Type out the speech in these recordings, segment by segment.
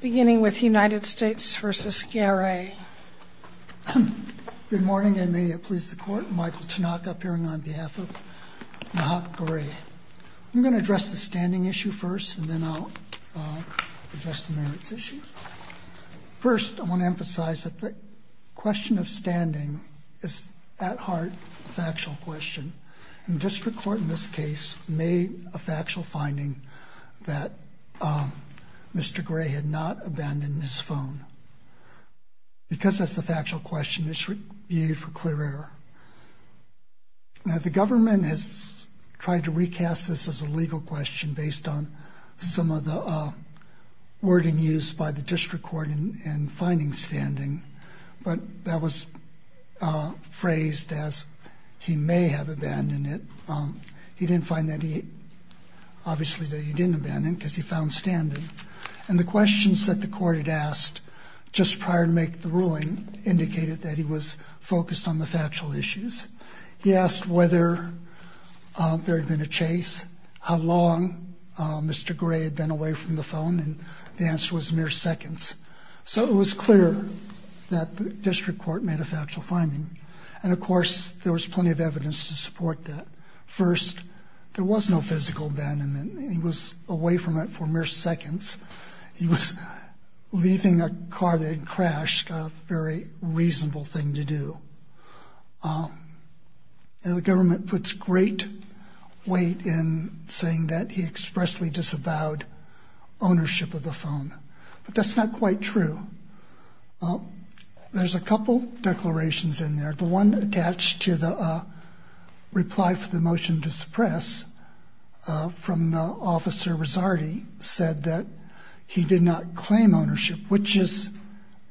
Beginning with United States v. Garay. Good morning and may it please the court, Michael Tanaka appearing on behalf of Nahach Garay. I'm going to address the standing issue first and then I'll address the merits issue. First, I want to emphasize that the question of standing is at heart a factual question. And district court in this case made a factual finding that Mr. Garay had not abandoned his phone. Because that's a factual question, it should be viewed for clear error. Now, the government has tried to recast this as a legal question based on some of the wording used by the district court in finding standing. But that was phrased as he may have abandoned it. He didn't find that he obviously that he didn't abandon because he found standing. And the questions that the court had asked just prior to make the ruling indicated that he was focused on the factual issues. He asked whether there had been a chase, how long Mr. Garay had been away from the phone. And the answer was mere seconds. So it was clear that the district court made a factual finding. And, of course, there was plenty of evidence to support that. First, there was no physical abandonment. He was away from it for mere seconds. He was leaving a car that had crashed, a very reasonable thing to do. And the government puts great weight in saying that he expressly disavowed ownership of the phone. But that's not quite true. There's a couple declarations in there. The one attached to the reply for the motion to suppress from Officer Rizzardi said that he did not claim ownership, which is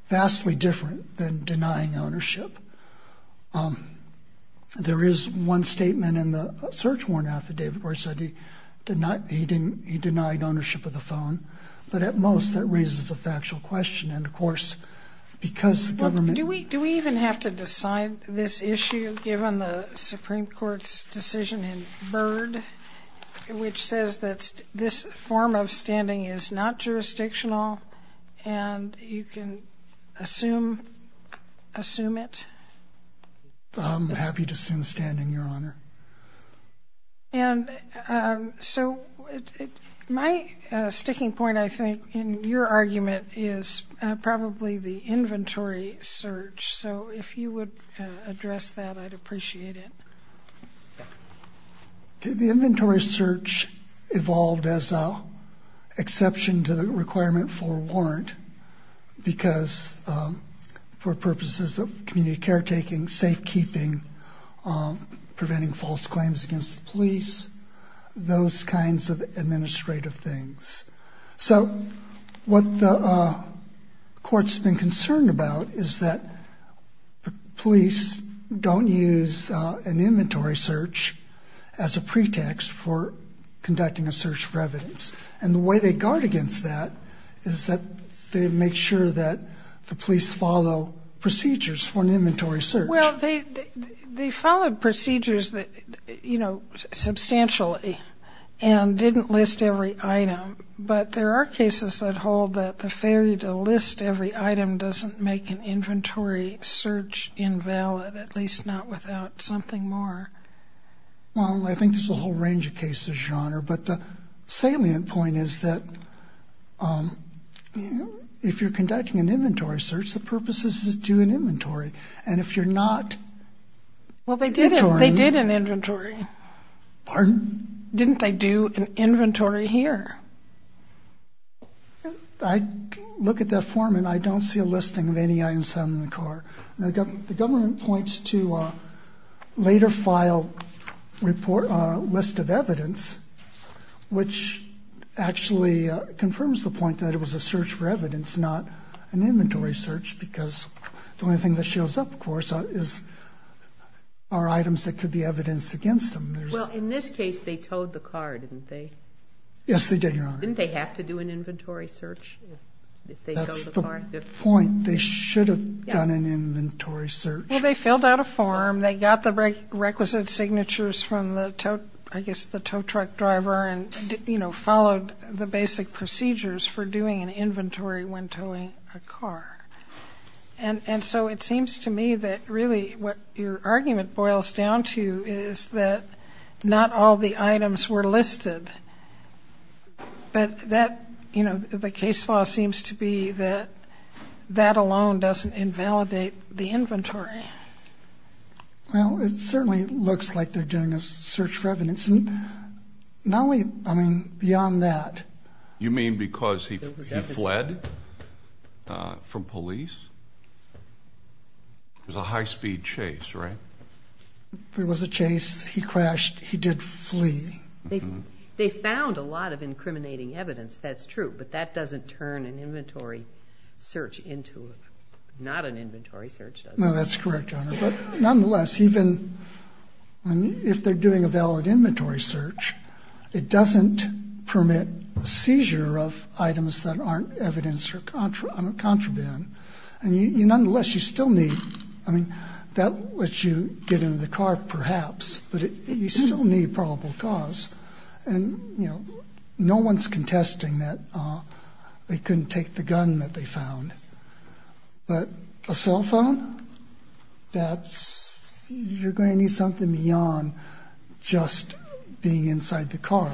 vastly different than denying ownership. There is one statement in the search warrant affidavit where he said he denied ownership of the phone. But at most that raises a factual question. And, of course, because the government ---- Do we even have to decide this issue given the Supreme Court's decision in Byrd, which says that this form of standing is not jurisdictional and you can assume it? I'm happy to assume standing, Your Honor. And so my sticking point, I think, in your argument is probably the inventory search. So if you would address that, I'd appreciate it. The inventory search evolved as an exception to the requirement for a warrant because for purposes of community caretaking, safekeeping, preventing false claims against the police, those kinds of administrative things. So what the court's been concerned about is that the police don't use an inventory search as a pretext for conducting a search for evidence. And the way they guard against that is that they make sure that the police follow procedures for an inventory search. Well, they followed procedures, you know, substantially and didn't list every item. But there are cases that hold that the failure to list every item doesn't make an inventory search invalid, at least not without something more. Well, I think there's a whole range of cases, Your Honor. But the salient point is that if you're conducting an inventory search, the purpose is to do an inventory. And if you're not inventorying. Well, they did an inventory. Pardon? Didn't they do an inventory here? I look at that form and I don't see a listing of any items found in the car. The government points to a later file report, a list of evidence, which actually confirms the point that it was a search for evidence, not an inventory search, because the only thing that shows up, of course, are items that could be evidenced against them. Well, in this case, they towed the car, didn't they? Yes, they did, Your Honor. Didn't they have to do an inventory search if they towed the car? They should have done an inventory search. Well, they filled out a form. They got the requisite signatures from the tow truck driver and, you know, followed the basic procedures for doing an inventory when towing a car. And so it seems to me that really what your argument boils down to is that not all the items were listed. But that, you know, the case law seems to be that that alone doesn't invalidate the inventory. Well, it certainly looks like they're doing a search for evidence. Not only, I mean, beyond that. You mean because he fled from police? It was a high-speed chase, right? It was a chase. He crashed. He did flee. They found a lot of incriminating evidence. That's true. But that doesn't turn an inventory search into not an inventory search, does it? No, that's correct, Your Honor. But nonetheless, even if they're doing a valid inventory search, it doesn't permit a seizure of items that aren't evidence or contraband. Nonetheless, you still need, I mean, that lets you get into the car, perhaps, but you still need probable cause. And, you know, no one's contesting that they couldn't take the gun that they found. But a cell phone, that's, you're going to need something beyond just being inside the car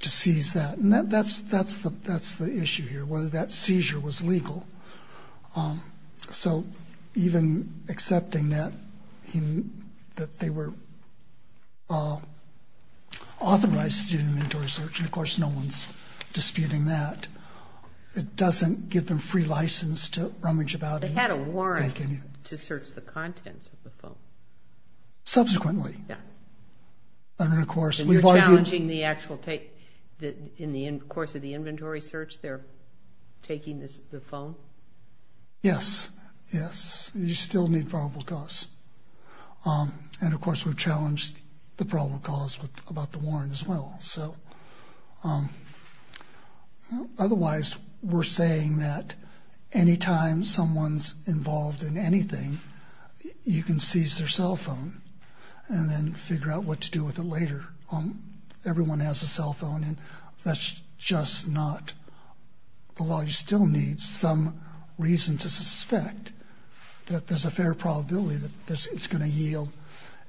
to seize that. That's the issue here, whether that seizure was legal. So even accepting that they were authorized to do an inventory search, and, of course, no one's disputing that, it doesn't give them free license to rummage about. They had a warrant to search the contents of the phone. Subsequently. Yeah. And, of course, we've argued. So you're challenging the actual, in the course of the inventory search, they're taking the phone? Yes, yes. You still need probable cause. And, of course, we've challenged the probable cause about the warrant as well. Otherwise, we're saying that any time someone's involved in anything, you can seize their cell phone and then figure out what to do with it later. Everyone has a cell phone, and that's just not the law. You still need some reason to suspect that there's a fair probability that it's going to yield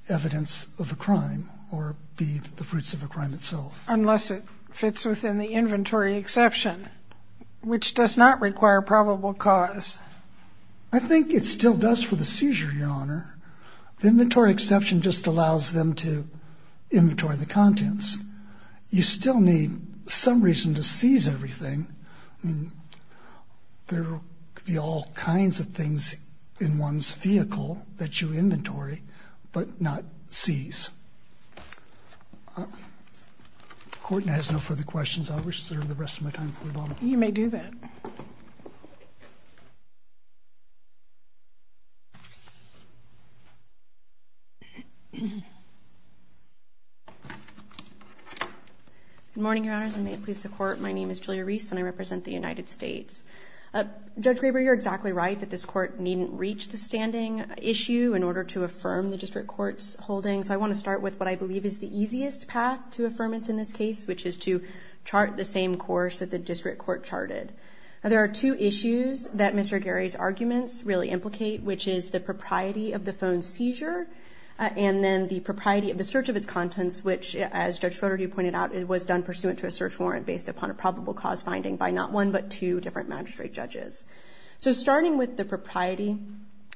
evidence of a crime or be the fruits of a crime itself. Unless it fits within the inventory exception, which does not require probable cause. I think it still does for the seizure, Your Honor. The inventory exception just allows them to inventory the contents. You still need some reason to seize everything. There could be all kinds of things in one's vehicle that you inventory but not seize. Courtney has no further questions. I'll reserve the rest of my time for Obama. You may do that. Good morning, Your Honors, and may it please the Court. My name is Julia Reese, and I represent the United States. Judge Graber, you're exactly right that this Court needn't reach the standing issue in order to affirm the district court's holding, so I want to start with what I believe is the easiest path to affirmance in this case, which is to chart the same course that the district court charted. There are two issues that Mr. Gary's arguments really implicate, which is the propriety of the phone's seizure and then the propriety of the search of its contents, which, as Judge Rotary pointed out, was done pursuant to a search warrant based upon a probable cause finding by not one but two different magistrate judges. So starting with the propriety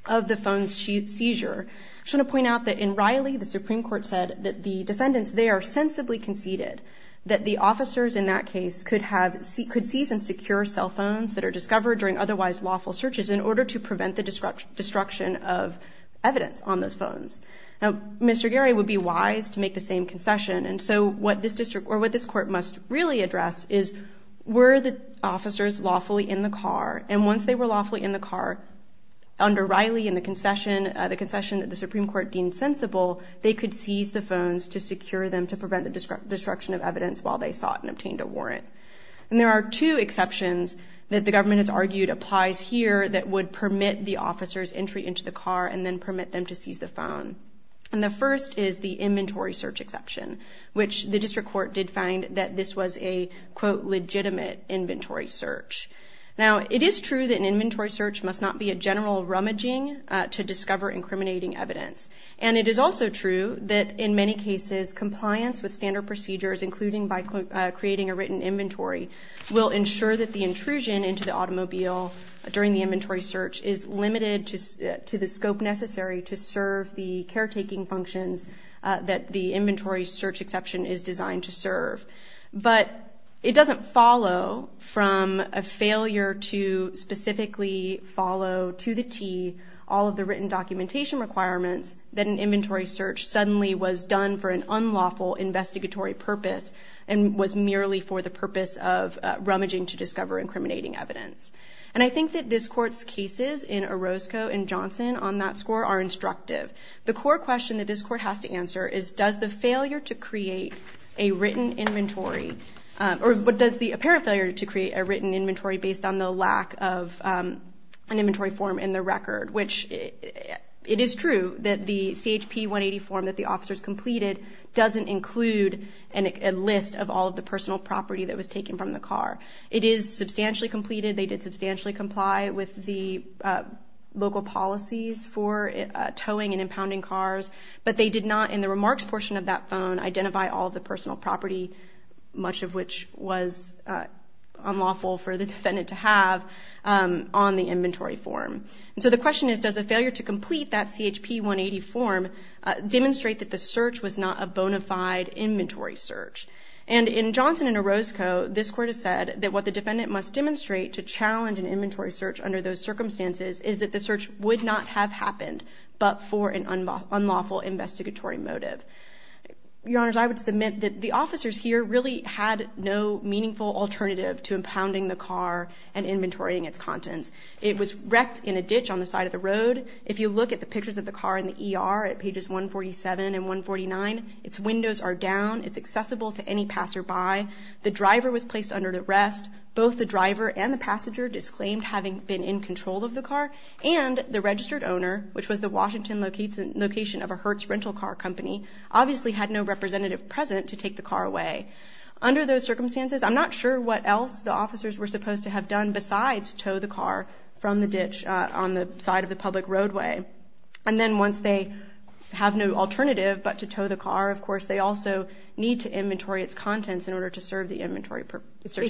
of the phone's seizure, I just want to point out that in Riley, the Supreme Court said that the defendants there sensibly conceded that the officers in that case could seize and secure cell phones that are discovered during otherwise lawful searches in order to prevent the destruction of evidence on those phones. Now, Mr. Gary would be wise to make the same concession, and so what this court must really address is, were the officers lawfully in the car, and once they were lawfully in the car under Riley and the concession that the Supreme Court deemed sensible, they could seize the phones to secure them to prevent the destruction of evidence while they sought and obtained a warrant. And there are two exceptions that the government has argued applies here that would permit the officers' entry into the car and then permit them to seize the phone. And the first is the inventory search exception, which the district court did find that this was a, quote, legitimate inventory search. Now, it is true that an inventory search must not be a general rummaging to discover incriminating evidence, and it is also true that in many cases compliance with standard procedures, including by creating a written inventory, will ensure that the intrusion into the automobile during the inventory search is limited to the scope necessary to serve the caretaking functions that the inventory search exception is designed to serve. But it doesn't follow from a failure to specifically follow to the T all of the written documentation requirements that an inventory search suddenly was done for an unlawful investigatory purpose and was merely for the purpose of rummaging to discover incriminating evidence. And I think that this Court's cases in Orozco and Johnson on that score are instructive. The core question that this Court has to answer is, does the failure to create a written inventory or does the apparent failure to create a written inventory based on the lack of an inventory form in the record, which it is true that the CHP 180 form that the officers completed doesn't include a list of all of the personal property that was taken from the car. It is substantially completed. They did substantially comply with the local policies for towing and impounding cars, but they did not, in the remarks portion of that phone, identify all of the personal property, much of which was unlawful for the defendant to have, on the inventory form. And so the question is, does the failure to complete that CHP 180 form demonstrate that the search was not a bona fide inventory search? And in Johnson and Orozco, this Court has said that what the defendant must demonstrate to challenge an inventory search under those circumstances is that the search would not have happened but for an unlawful investigatory motive. Your Honors, I would submit that the officers here really had no meaningful alternative to impounding the car and inventorying its contents. It was wrecked in a ditch on the side of the road. If you look at the pictures of the car in the ER at pages 147 and 149, its windows are down. It's accessible to any passerby. The driver was placed under arrest. Both the driver and the passenger disclaimed having been in control of the car, and the registered owner, which was the Washington location of a Hertz rental car company, obviously had no representative present to take the car away. Under those circumstances, I'm not sure what else the officers were supposed to have done besides tow the car from the ditch on the side of the public roadway. And then once they have no alternative but to tow the car, of course, they also need to inventory its contents in order to serve the inventory search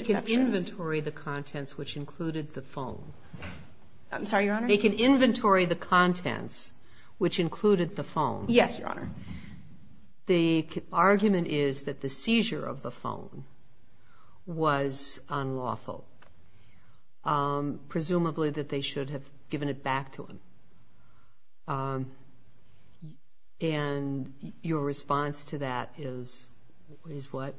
exception. They can inventory the contents, which included the phone. I'm sorry, Your Honor? They can inventory the contents, which included the phone. Yes, Your Honor. The argument is that the seizure of the phone was unlawful, presumably that they should have given it back to him. And your response to that is what?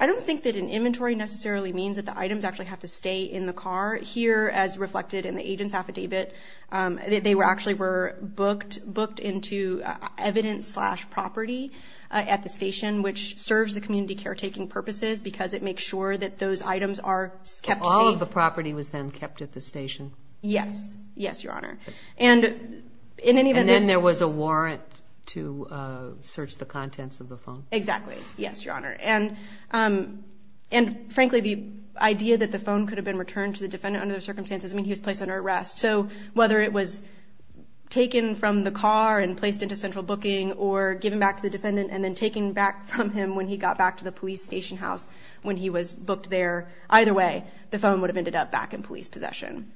I don't think that an inventory necessarily means that the items actually have to stay in the car. Here, as reflected in the agent's affidavit, they actually were booked into evidence slash property at the station, which serves the community caretaking purposes because it makes sure that those items are kept safe. All of the property was then kept at the station? Yes. Yes, Your Honor. And then there was a warrant to search the contents of the phone? Exactly. Yes, Your Honor. And frankly, the idea that the phone could have been returned to the defendant under those circumstances, I mean, he was placed under arrest. So whether it was taken from the car and placed into central booking or given back to the defendant and then taken back from him when he got back to the police station house when he was booked there, either way, the phone would have ended up back in police possession.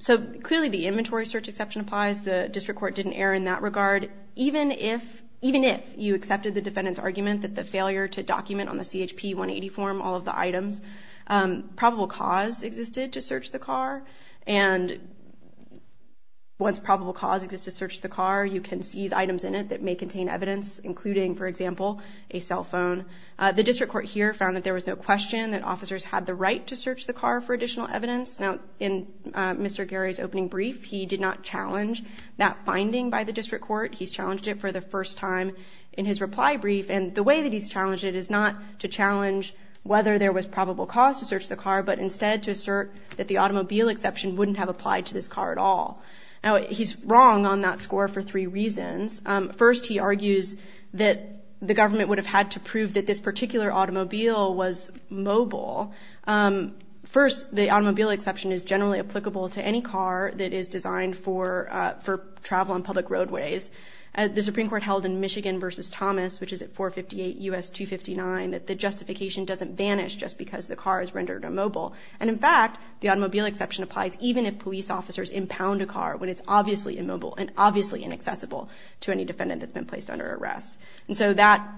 So clearly the inventory search exception applies. The district court didn't err in that regard. Even if you accepted the defendant's argument that the failure to document on the CHP 180 form all of the items, probable cause existed to search the car. And once probable cause exists to search the car, you can seize items in it that may contain evidence, including, for example, a cell phone. The district court here found that there was no question that officers had the right to search the car for additional evidence. Now, in Mr. Gary's opening brief, he did not challenge that finding by the district court. He's challenged it for the first time in his reply brief. And the way that he's challenged it is not to challenge whether there was probable cause to search the car, but instead to assert that the automobile exception wouldn't have applied to this car at all. Now, he's wrong on that score for three reasons. First, he argues that the government would have had to prove that this particular automobile was mobile. First, the automobile exception is generally applicable to any car that is designed for travel on public roadways. The Supreme Court held in Michigan v. Thomas, which is at 458 U.S. 259, that the justification doesn't vanish just because the car is rendered immobile. And, in fact, the automobile exception applies even if police officers impound a car when it's obviously immobile and obviously inaccessible to any defendant that's been placed under arrest. And so that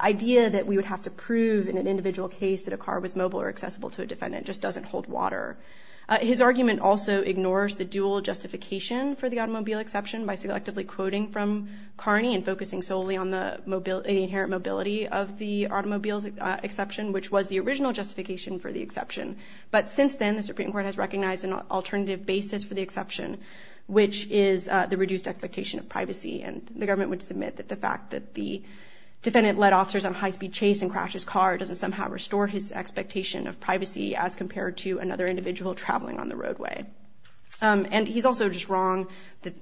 idea that we would have to prove in an individual case that a car was mobile or accessible to a defendant just doesn't hold water. His argument also ignores the dual justification for the automobile exception by selectively quoting from Carney and focusing solely on the inherent mobility of the automobile exception, which was the original justification for the exception. But since then, the Supreme Court has recognized an alternative basis for the exception, which is the reduced expectation of privacy. And the government would submit that the fact that the defendant led officers on high-speed chase and crashed his car doesn't somehow restore his expectation of privacy as compared to another individual traveling on the roadway. And he's also just wrong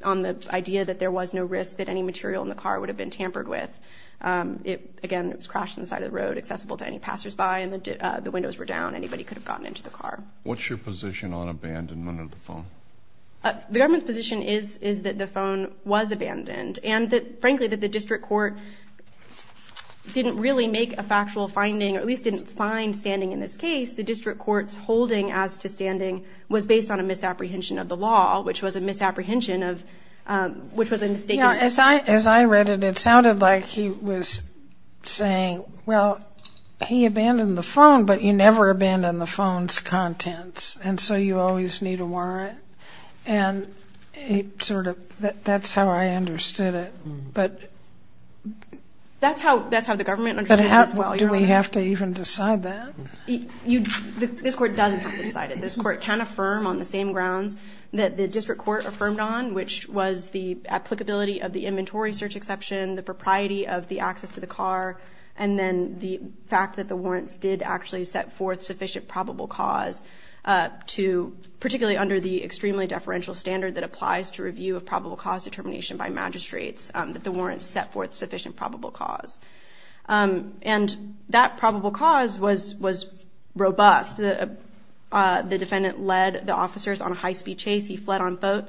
on the idea that there was no risk that any material in the car would have been tampered with. Again, it was crashed on the side of the road, accessible to any passersby, and the windows were down. Anybody could have gotten into the car. What's your position on abandonment of the phone? The government's position is that the phone was abandoned, and that, frankly, that the district court didn't really make a factual finding or at least didn't find standing in this case. The district court's holding as to standing was based on a misapprehension of the law, which was a misapprehension of which was a mistaken. Now, as I read it, it sounded like he was saying, well, he abandoned the phone, but you never abandon the phone's contents, and so you always need a warrant. And it sort of that's how I understood it. But do we have to even decide that? This Court doesn't have to decide it. This Court can affirm on the same grounds that the district court affirmed on, which was the applicability of the inventory search exception, the propriety of the access to the car, and then the fact that the warrants did actually set forth sufficient probable cause to, particularly under the extremely deferential standard that applies to review of probable cause determination by magistrates, that the warrants set forth sufficient probable cause. And that probable cause was robust. The defendant led the officers on a high-speed chase. He fled on foot.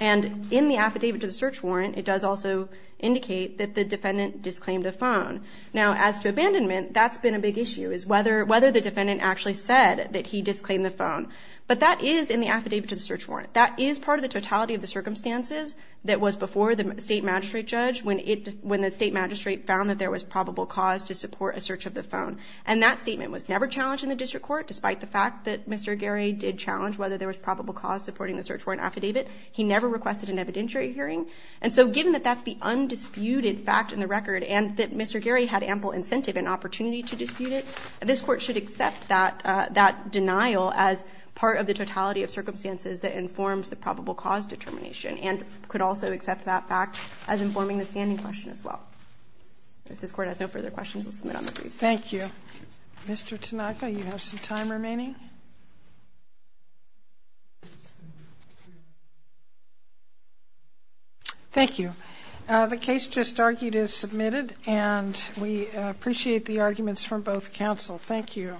And in the affidavit to the search warrant, it does also indicate that the defendant disclaimed the phone. Now, as to abandonment, that's been a big issue, is whether the defendant actually said that he disclaimed the phone. But that is in the affidavit to the search warrant. That is part of the totality of the circumstances that was before the state magistrate judge when the state magistrate found that there was probable cause to support a search of the phone. And that statement was never challenged in the district court, despite the fact that Mr. Geri did challenge whether there was probable cause supporting the search warrant affidavit. He never requested an evidentiary hearing. And so given that that's the undisputed fact in the record and that Mr. Geri had ample incentive and opportunity to dispute it, this Court should accept that denial as part of the totality of circumstances that informs the probable cause determination and could also accept that fact as informing the standing question as well. If this Court has no further questions, I'll submit on the briefs. Thank you. Mr. Tanaka, you have some time remaining. Thank you. The case just argued is submitted, and we appreciate the arguments from both counsel. Thank you.